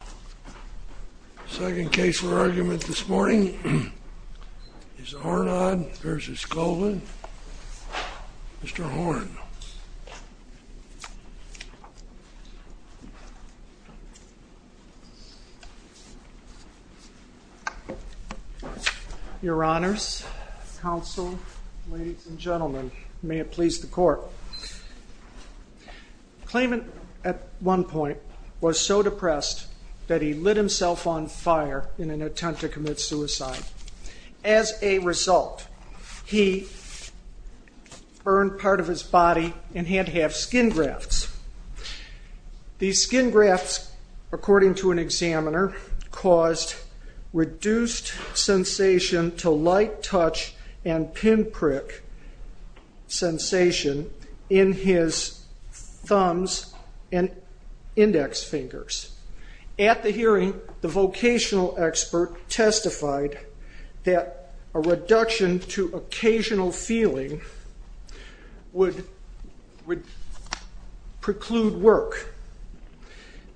The second case for argument this morning is Aurand v. Colvin. Mr. Aurand. Your honors, counsel, ladies and gentlemen, may it please the court. The claimant at one point was so depressed that he lit himself on fire in an attempt to commit suicide. As a result, he burned part of his body in hand-to-half skin grafts. These skin grafts, according to an examiner, caused reduced sensation to light touch and pinprick sensation in his thumbs and index fingers. At the hearing, the vocational expert testified that a reduction to occasional feeling would preclude work.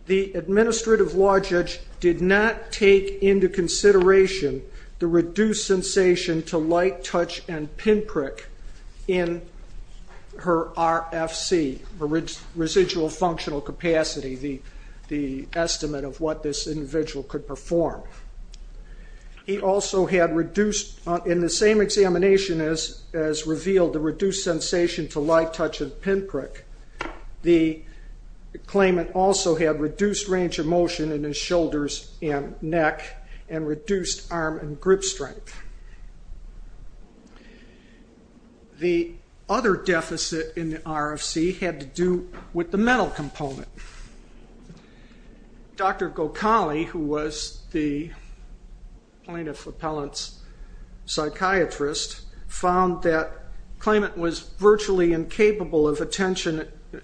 The administrative law judge did not take into consideration the reduced sensation to light touch and pinprick in her RFC, residual functional capacity, the estimate of what this individual could perform. In the same examination as revealed the reduced sensation to light touch and pinprick, the claimant also had reduced range of motion in his shoulders and neck and reduced arm and grip strength. The other deficit in the RFC had to do with the mental component. Dr. Gokhali, who was the plaintiff appellant's psychiatrist, found that the claimant was virtually incapable of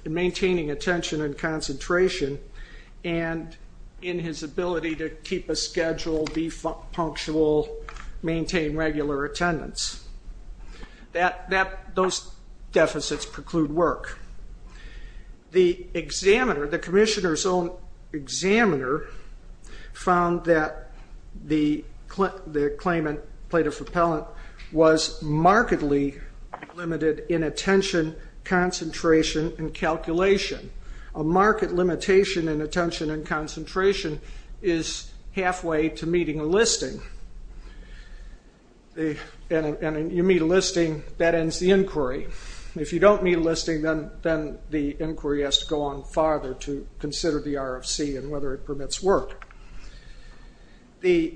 maintaining attention and concentration, and in his ability to keep a schedule, be punctual, maintain regular attendance. Those deficits preclude work. The examiner, the commissioner's own examiner, found that the claimant, plaintiff appellant, was markedly limited in attention, concentration, and calculation. A marked limitation in attention and concentration is halfway to meeting a listing. And you meet a listing, that ends the inquiry. If you don't meet a listing, then the inquiry has to go on farther to consider the RFC and whether it permits work. The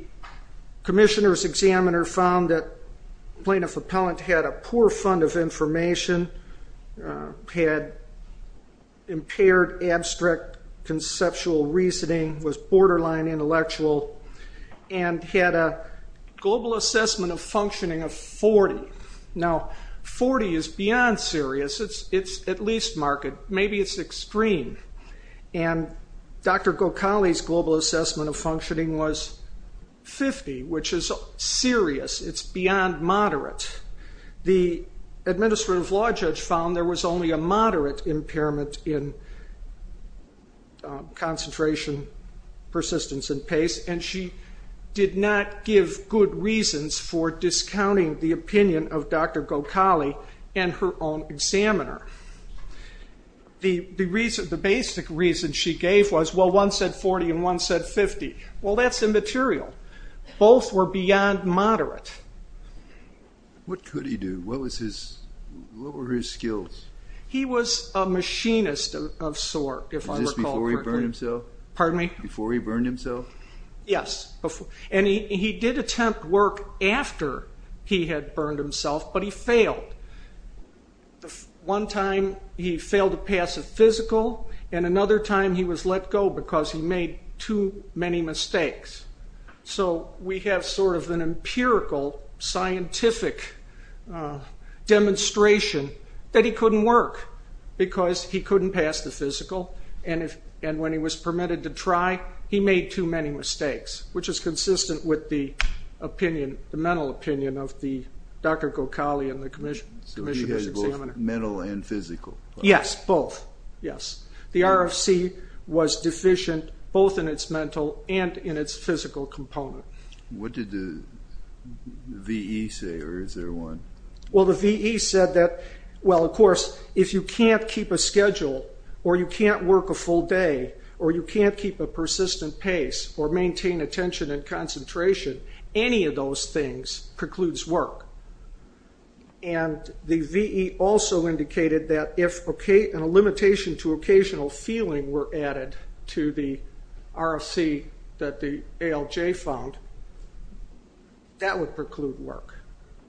commissioner's examiner found that plaintiff appellant had a poor fund of information, had impaired abstract conceptual reasoning, was borderline intellectual, and had a global assessment of functioning of 40. Now, 40 is beyond serious. It's at least marked. Maybe it's extreme. And Dr. Gokhali's global assessment of functioning was 50, which is serious. It's beyond moderate. The administrative law judge found there was only a moderate impairment in concentration, persistence, and pace, and she did not give good reasons for discounting the opinion of Dr. Gokhali and her own examiner. The basic reason she gave was, well, one said 40 and one said 50. Well, that's immaterial. Both were beyond moderate. What could he do? What were his skills? He was a machinist of sort, if I recall correctly. Was this before he burned himself? Pardon me? Before he burned himself? Yes. And he did attempt work after he had burned himself, but he failed. One time he failed to pass a physical, and another time he was let go because he made too many mistakes. So we have sort of an empirical scientific demonstration that he couldn't work because he couldn't pass the physical, and when he was permitted to try, he made too many mistakes, which is consistent with the mental opinion of Dr. Gokhali and the commissioner's examiner. So she had both mental and physical? Yes, both, yes. The RFC was deficient both in its mental and in its physical component. What did the VE say, or is there one? Well, the VE said that, well, of course, if you can't keep a schedule or you can't work a full day or you can't keep a persistent pace or maintain attention and concentration, any of those things precludes work. And the VE also indicated that if a limitation to occasional feeling were added to the RFC that the ALJ found, that would preclude work.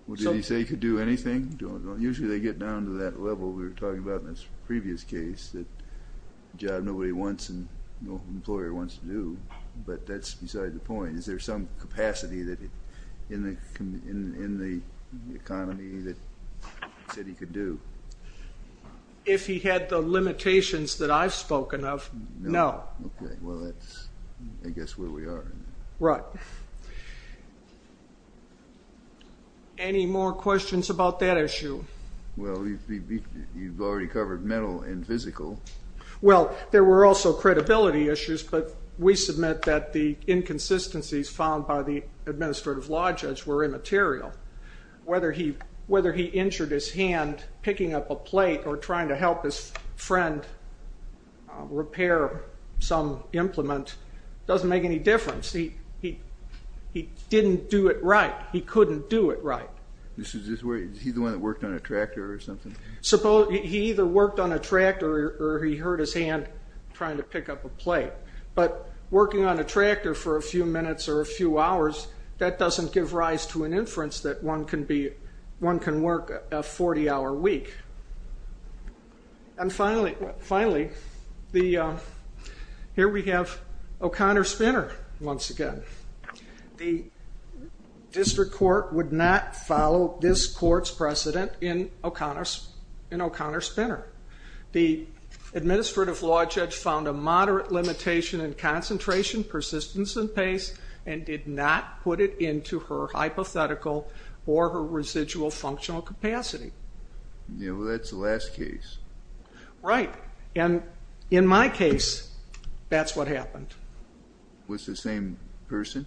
Well, did he say he could do anything? Usually they get down to that level we were talking about in this previous case, that a job nobody wants and no employer wants to do, but that's beside the point. Is there some capacity in the economy that he said he could do? If he had the limitations that I've spoken of, no. Okay, well, that's, I guess, where we are. Right. Any more questions about that issue? Well, you've already covered mental and physical. Well, there were also credibility issues, but we submit that the inconsistencies found by the administrative law judge were immaterial. Whether he injured his hand picking up a plate or trying to help his friend repair some implement doesn't make any difference. He didn't do it right. He couldn't do it right. Is he the one that worked on a tractor or something? He either worked on a tractor or he hurt his hand trying to pick up a plate. But working on a tractor for a few minutes or a few hours, that doesn't give rise to an inference that one can work a 40-hour week. And finally, here we have O'Connor Spinner once again. The district court would not follow this court's precedent in O'Connor Spinner. The administrative law judge found a moderate limitation in concentration, persistence, and pace and did not put it into her hypothetical or her residual functional capacity. Yeah, well, that's the last case. Right. And in my case, that's what happened. Was it the same person?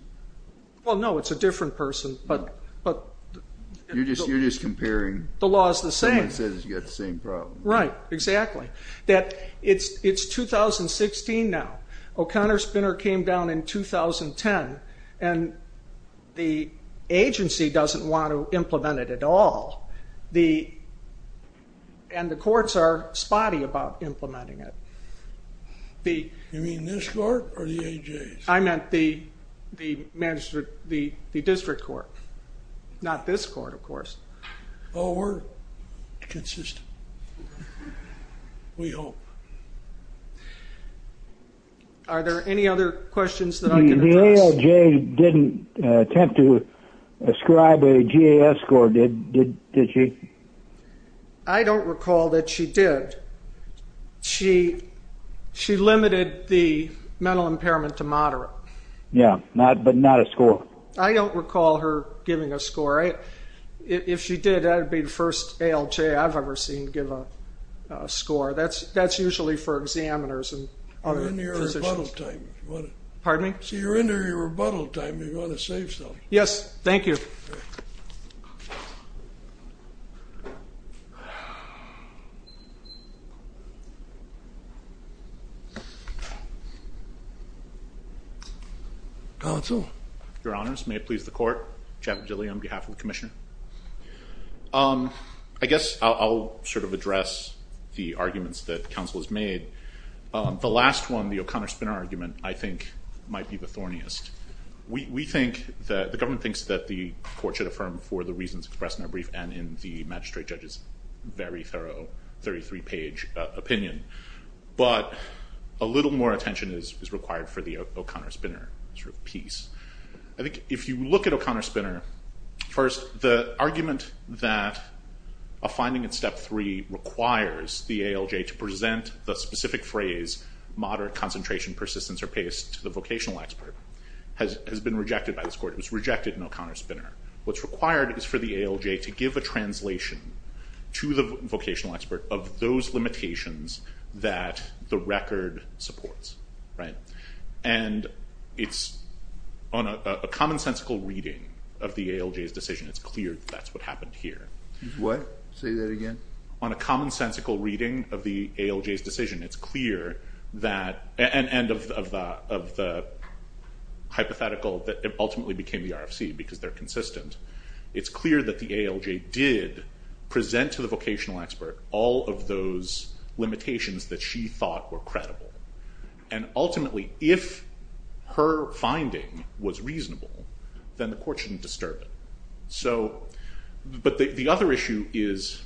Well, no, it's a different person, but... You're just comparing... The law is the same. Someone says you've got the same problem. Right, exactly. It's 2016 now. O'Connor Spinner came down in 2010, and the agency doesn't want to implement it at all. And the courts are spotty about implementing it. You mean this court or the A.J.'s? I meant the district court, not this court, of course. Oh, we're consistent. We hope. Are there any other questions that I can address? The A.J. didn't attempt to ascribe a GAS score. Did she? I don't recall that she did. She limited the mental impairment to moderate. Yeah, but not a score. I don't recall her giving a score. If she did, that would be the first ALJ I've ever seen give a score. That's usually for examiners and other physicians. You're in your rebuttal time. Pardon me? You're in your rebuttal time. You want to say something? Yes, thank you. All right. Counsel? Your Honors, may it please the Court? Chad Bedilli on behalf of the Commissioner. I guess I'll sort of address the arguments that counsel has made. The last one, the O'Connor-Spinner argument, I think might be the thorniest. We think that the government thinks that the Court should affirm for the reasons expressed in our brief and in the magistrate judge's very thorough 33-page opinion. But a little more attention is required for the O'Connor-Spinner sort of piece. I think if you look at O'Connor-Spinner, first, the argument that a finding in Step 3 requires the ALJ to present the specific phrase moderate concentration, persistence, or pace to the vocational expert has been rejected by this Court. It was rejected in O'Connor-Spinner. What's required is for the ALJ to give a translation to the vocational expert of those limitations that the record supports. And on a commonsensical reading of the ALJ's decision, it's clear that that's what happened here. What? Say that again? On a commonsensical reading of the ALJ's decision, it's clear that, and of the hypothetical that ultimately became the RFC because they're consistent, it's clear that the ALJ did present to the vocational expert all of those limitations that she thought were credible. And ultimately, if her finding was reasonable, then the Court shouldn't disturb it. But the other issue is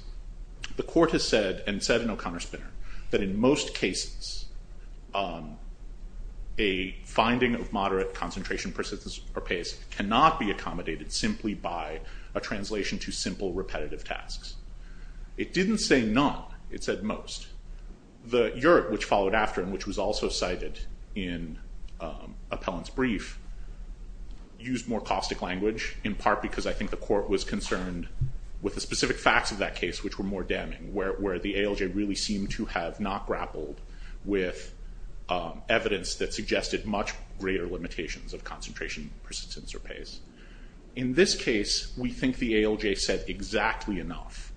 the Court has said, and said in O'Connor-Spinner, that in most cases a finding of moderate concentration, persistence, or pace cannot be accommodated simply by a translation to simple repetitive tasks. It didn't say none. It said most. The URT, which followed after and which was also cited in Appellant's brief, used more caustic language in part because I think the Court was concerned with the specific facts of that case which were more damning, where the ALJ really seemed to have not grappled with evidence that suggested much greater limitations of concentration, persistence, or pace. In this case, we think the ALJ said exactly enough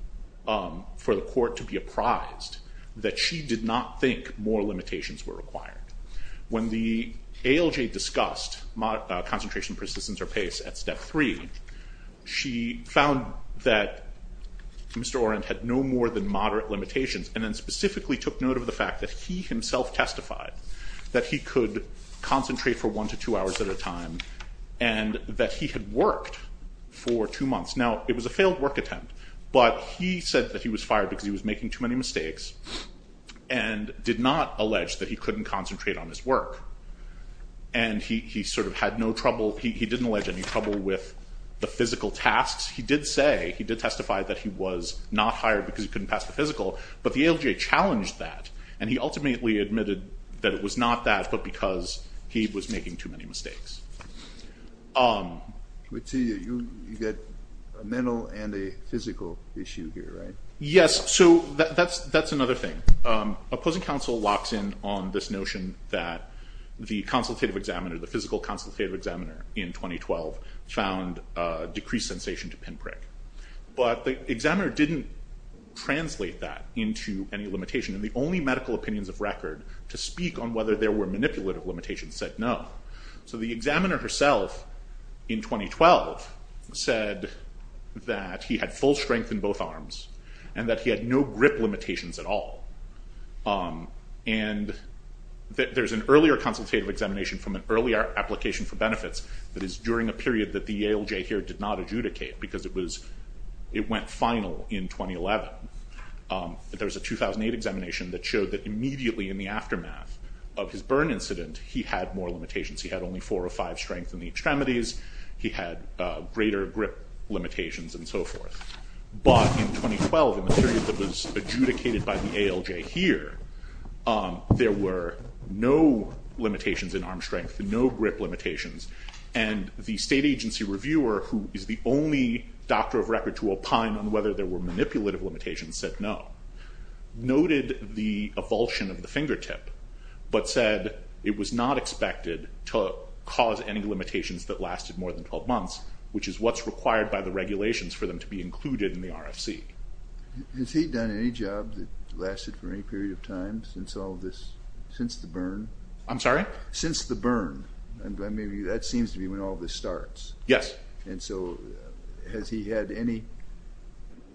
for the Court to be apprised that she did not think more limitations were required. When the ALJ discussed concentration, persistence, or pace at Step 3, she found that Mr. Orend had no more than moderate limitations, and then specifically took note of the fact that he himself testified that he could concentrate for one to two hours at a time, and that he had worked for two months. Now, it was a failed work attempt, but he said that he was fired because he was making too many mistakes, and did not allege that he couldn't concentrate on his work. And he sort of had no trouble, he didn't allege any trouble with the physical tasks. He did say, he did testify that he was not hired because he couldn't pass the physical, but the ALJ challenged that, and he ultimately admitted that it was not that, but because he was making too many mistakes. But you get a mental and a physical issue here, right? Yes, so that's another thing. Opposing counsel locks in on this notion that the consultative examiner, the physical consultative examiner in 2012, found decreased sensation to pinprick. But the examiner didn't translate that into any limitation, and the only medical opinions of record to speak on whether there were manipulative limitations said no. So the examiner herself in 2012 said that he had full strength in both arms, and that he had no grip limitations at all. And there's an earlier consultative examination from an earlier application for benefits that is during a period that the ALJ here did not adjudicate, because it was, it went final in 2011. There was a 2008 examination that showed that immediately in the aftermath of his burn incident, he had more limitations. He had only four or five strength in the extremities. He had greater grip limitations and so forth. But in 2012, in the period that was adjudicated by the ALJ here, there were no limitations in arm strength, no grip limitations. And the state agency reviewer, who is the only doctor of record to opine on whether there were manipulative limitations, said no. Noted the avulsion of the fingertip, but said it was not expected to cause any limitations that lasted more than 12 months, which is what's required by the regulations for them to be included in the RFC. Has he done any job that lasted for any period of time since all this, since the burn? I'm sorry? Since the burn. I mean, that seems to be when all this starts. Yes. And so has he had any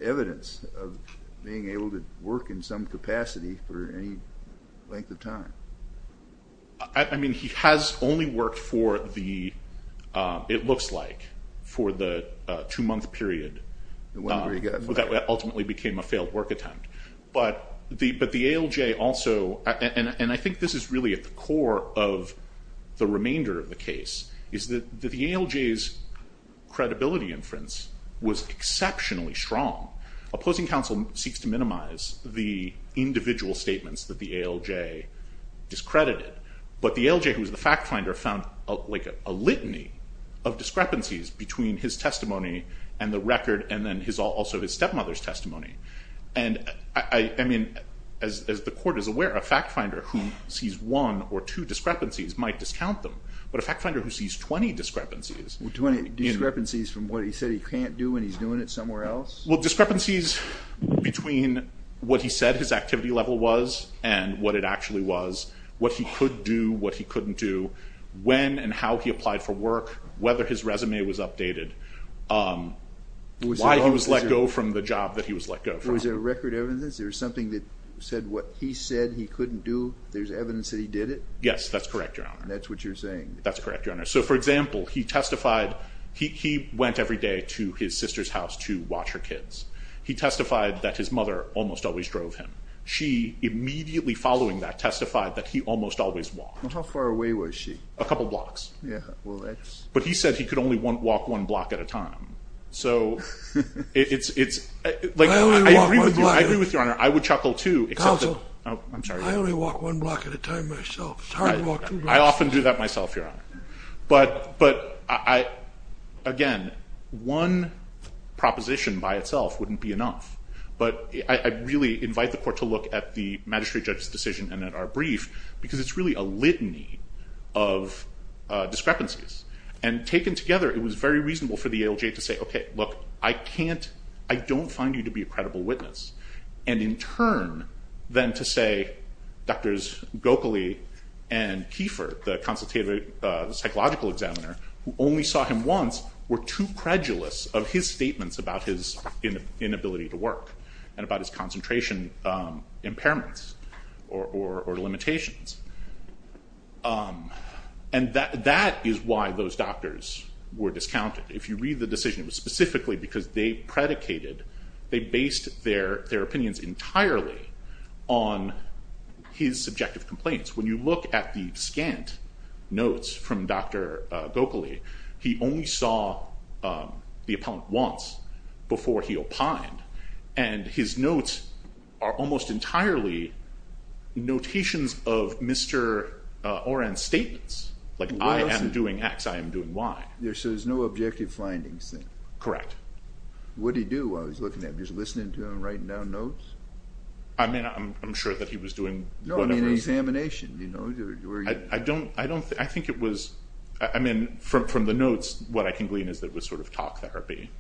evidence of being able to work in some capacity for any length of time? I mean, he has only worked for the, it looks like, for the two-month period. That ultimately became a failed work attempt. But the ALJ also, and I think this is really at the core of the remainder of the case, is that the ALJ's credibility inference was exceptionally strong. Opposing counsel seeks to minimize the individual statements that the ALJ discredited. But the ALJ, who is the fact finder, found like a litany of discrepancies between his testimony and the record, and then also his stepmother's testimony. And I mean, as the court is aware, a fact finder who sees one or two discrepancies might discount them. But a fact finder who sees 20 discrepancies. Well, 20 discrepancies from what he said he can't do when he's doing it somewhere else? Well, discrepancies between what he said his activity level was and what it actually was, what he could do, what he couldn't do, when and how he applied for work, whether his resume was updated, why he was let go from the job that he was let go from. Was there record evidence? There was something that said what he said he couldn't do, there's evidence that he did it? Yes, that's correct, Your Honor. That's what you're saying? That's correct, Your Honor. So, for example, he testified, he went every day to his sister's house to watch her kids. He testified that his mother almost always drove him. She, immediately following that, testified that he almost always walked. How far away was she? A couple blocks. Yeah, well, that's... But he said he could only walk one block at a time. So, it's... I agree with Your Honor, I would chuckle too, except that... Counsel, I only walk one block at a time myself, it's hard to walk two blocks at a time. I often do that myself, Your Honor. But, again, one proposition by itself wouldn't be enough. But I really invite the court to look at the magistrate judge's decision and at our brief, because it's really a litany of discrepancies. And taken together, it was very reasonable for the ALJ to say, okay, look, I don't find you to be a credible witness. And, in turn, then to say Drs. Gokhale and Kiefer, the consultative psychological examiner, who only saw him once, were too credulous of his statements about his inability to work and about his concentration impairments or limitations. And that is why those doctors were discounted. If you read the decision, it was specifically because they predicated, they based their opinions entirely on his subjective complaints. When you look at the scant notes from Dr. Gokhale, he only saw the appellant once before he opined. And his notes are almost entirely notations of Mr. Oran's statements, like I am doing X, I am doing Y. So there's no objective findings then? Correct. What did he do while he was looking at them? Just listening to him, writing down notes? I mean, I'm sure that he was doing whatever he was doing. No, I mean, examination, you know. I don't, I think it was, I mean, from the notes, what I can glean is that it was sort of talk therapy.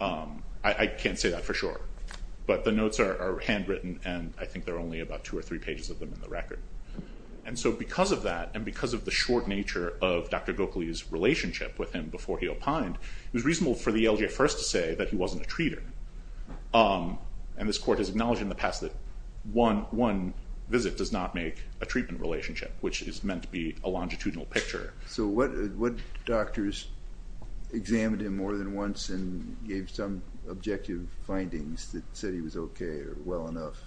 I can't say that for sure. But the notes are handwritten, and I think there are only about two or three pages of them in the record. And so because of that, and because of the short nature of Dr. Gokhale's relationship with him before he opined, it was reasonable for the LJ First to say that he wasn't a treater. And this court has acknowledged in the past that one visit does not make a treatment relationship, which is meant to be a longitudinal picture. So what doctors examined him more than once and gave some objective findings that said he was okay or well enough?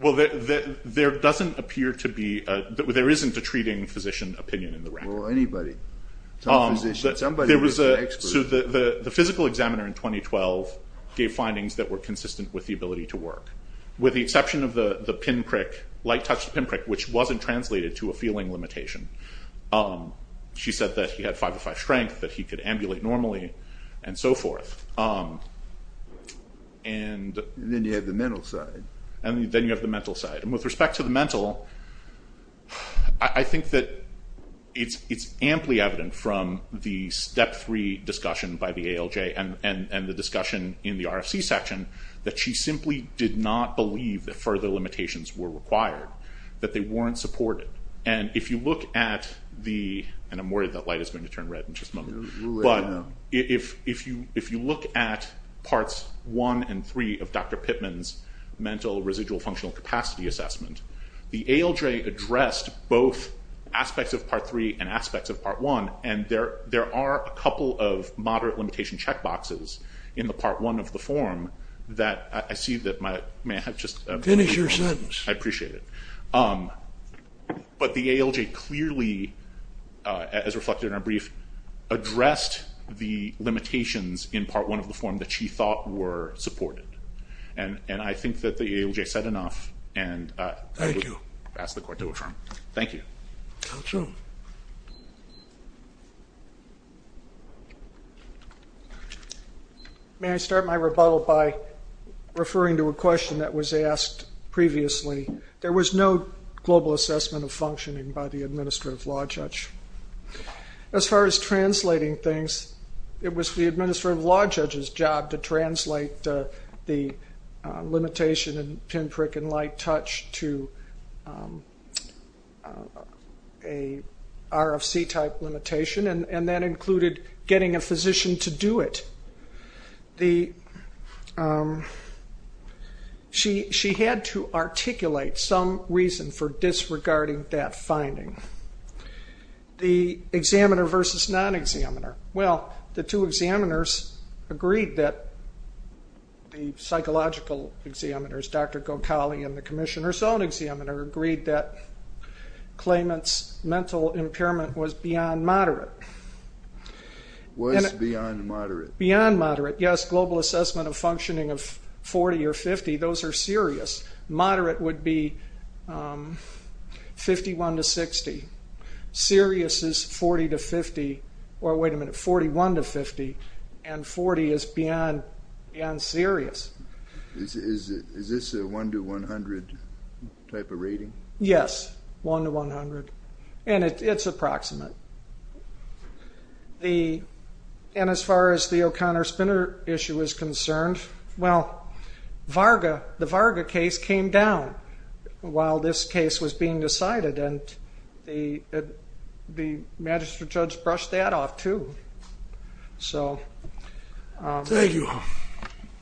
Well, there doesn't appear to be, there isn't a treating physician opinion in the record. So the physical examiner in 2012 gave findings that were consistent with the ability to work. With the exception of the pinprick, light-touched pinprick, which wasn't translated to a feeling limitation. She said that he had 505 strength, that he could ambulate normally, and so forth. And then you have the mental side. And then you have the mental side. And with respect to the mental, I think that it's amply evident from the Step 3 discussion by the ALJ and the discussion in the RFC section that she simply did not believe that further limitations were required, that they weren't supported. And if you look at the, and I'm worried that light is going to turn red in just a moment, but if you look at Parts 1 and 3 of Dr. Pittman's mental residual functional capacity assessment, the ALJ addressed both aspects of Part 3 and aspects of Part 1, and there are a couple of moderate limitation checkboxes in the Part 1 of the form that I see that my, may I have just a brief moment? Finish your sentence. I appreciate it. But the ALJ clearly, as reflected in our brief, addressed the limitations in Part 1 of the form that she thought were supported. And I think that the ALJ said enough, and I would ask the Court to affirm. Thank you. Thank you. May I start my rebuttal by referring to a question that was asked previously? There was no global assessment of functioning by the Administrative Law Judge. As far as translating things, it was the Administrative Law Judge's job to translate the limitation in pinprick and light touch to a RFC-type limitation, and that included getting a physician to do it. The, she had to articulate some reason for disregarding that finding. The examiner versus non-examiner. Well, the two examiners agreed that, the psychological examiners, Dr. Gokhale and the Commissioner's own examiner, agreed that Clayman's mental impairment was beyond moderate. Was beyond moderate. Beyond moderate, yes. Global assessment of functioning of 40 or 50, those are serious. Moderate would be 51 to 60. Serious is 40 to 50, or wait a minute, 41 to 50. And 40 is beyond serious. Is this a 1 to 100 type of rating? Yes, 1 to 100. And it's approximate. The, and as far as the O'Connor-Spinner issue is concerned, well, Varga, the Varga case came down while this case was being decided, and the Magistrate Judge brushed that off, too. So. Thank you.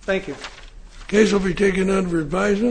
Thank you. Case will be taken under revising.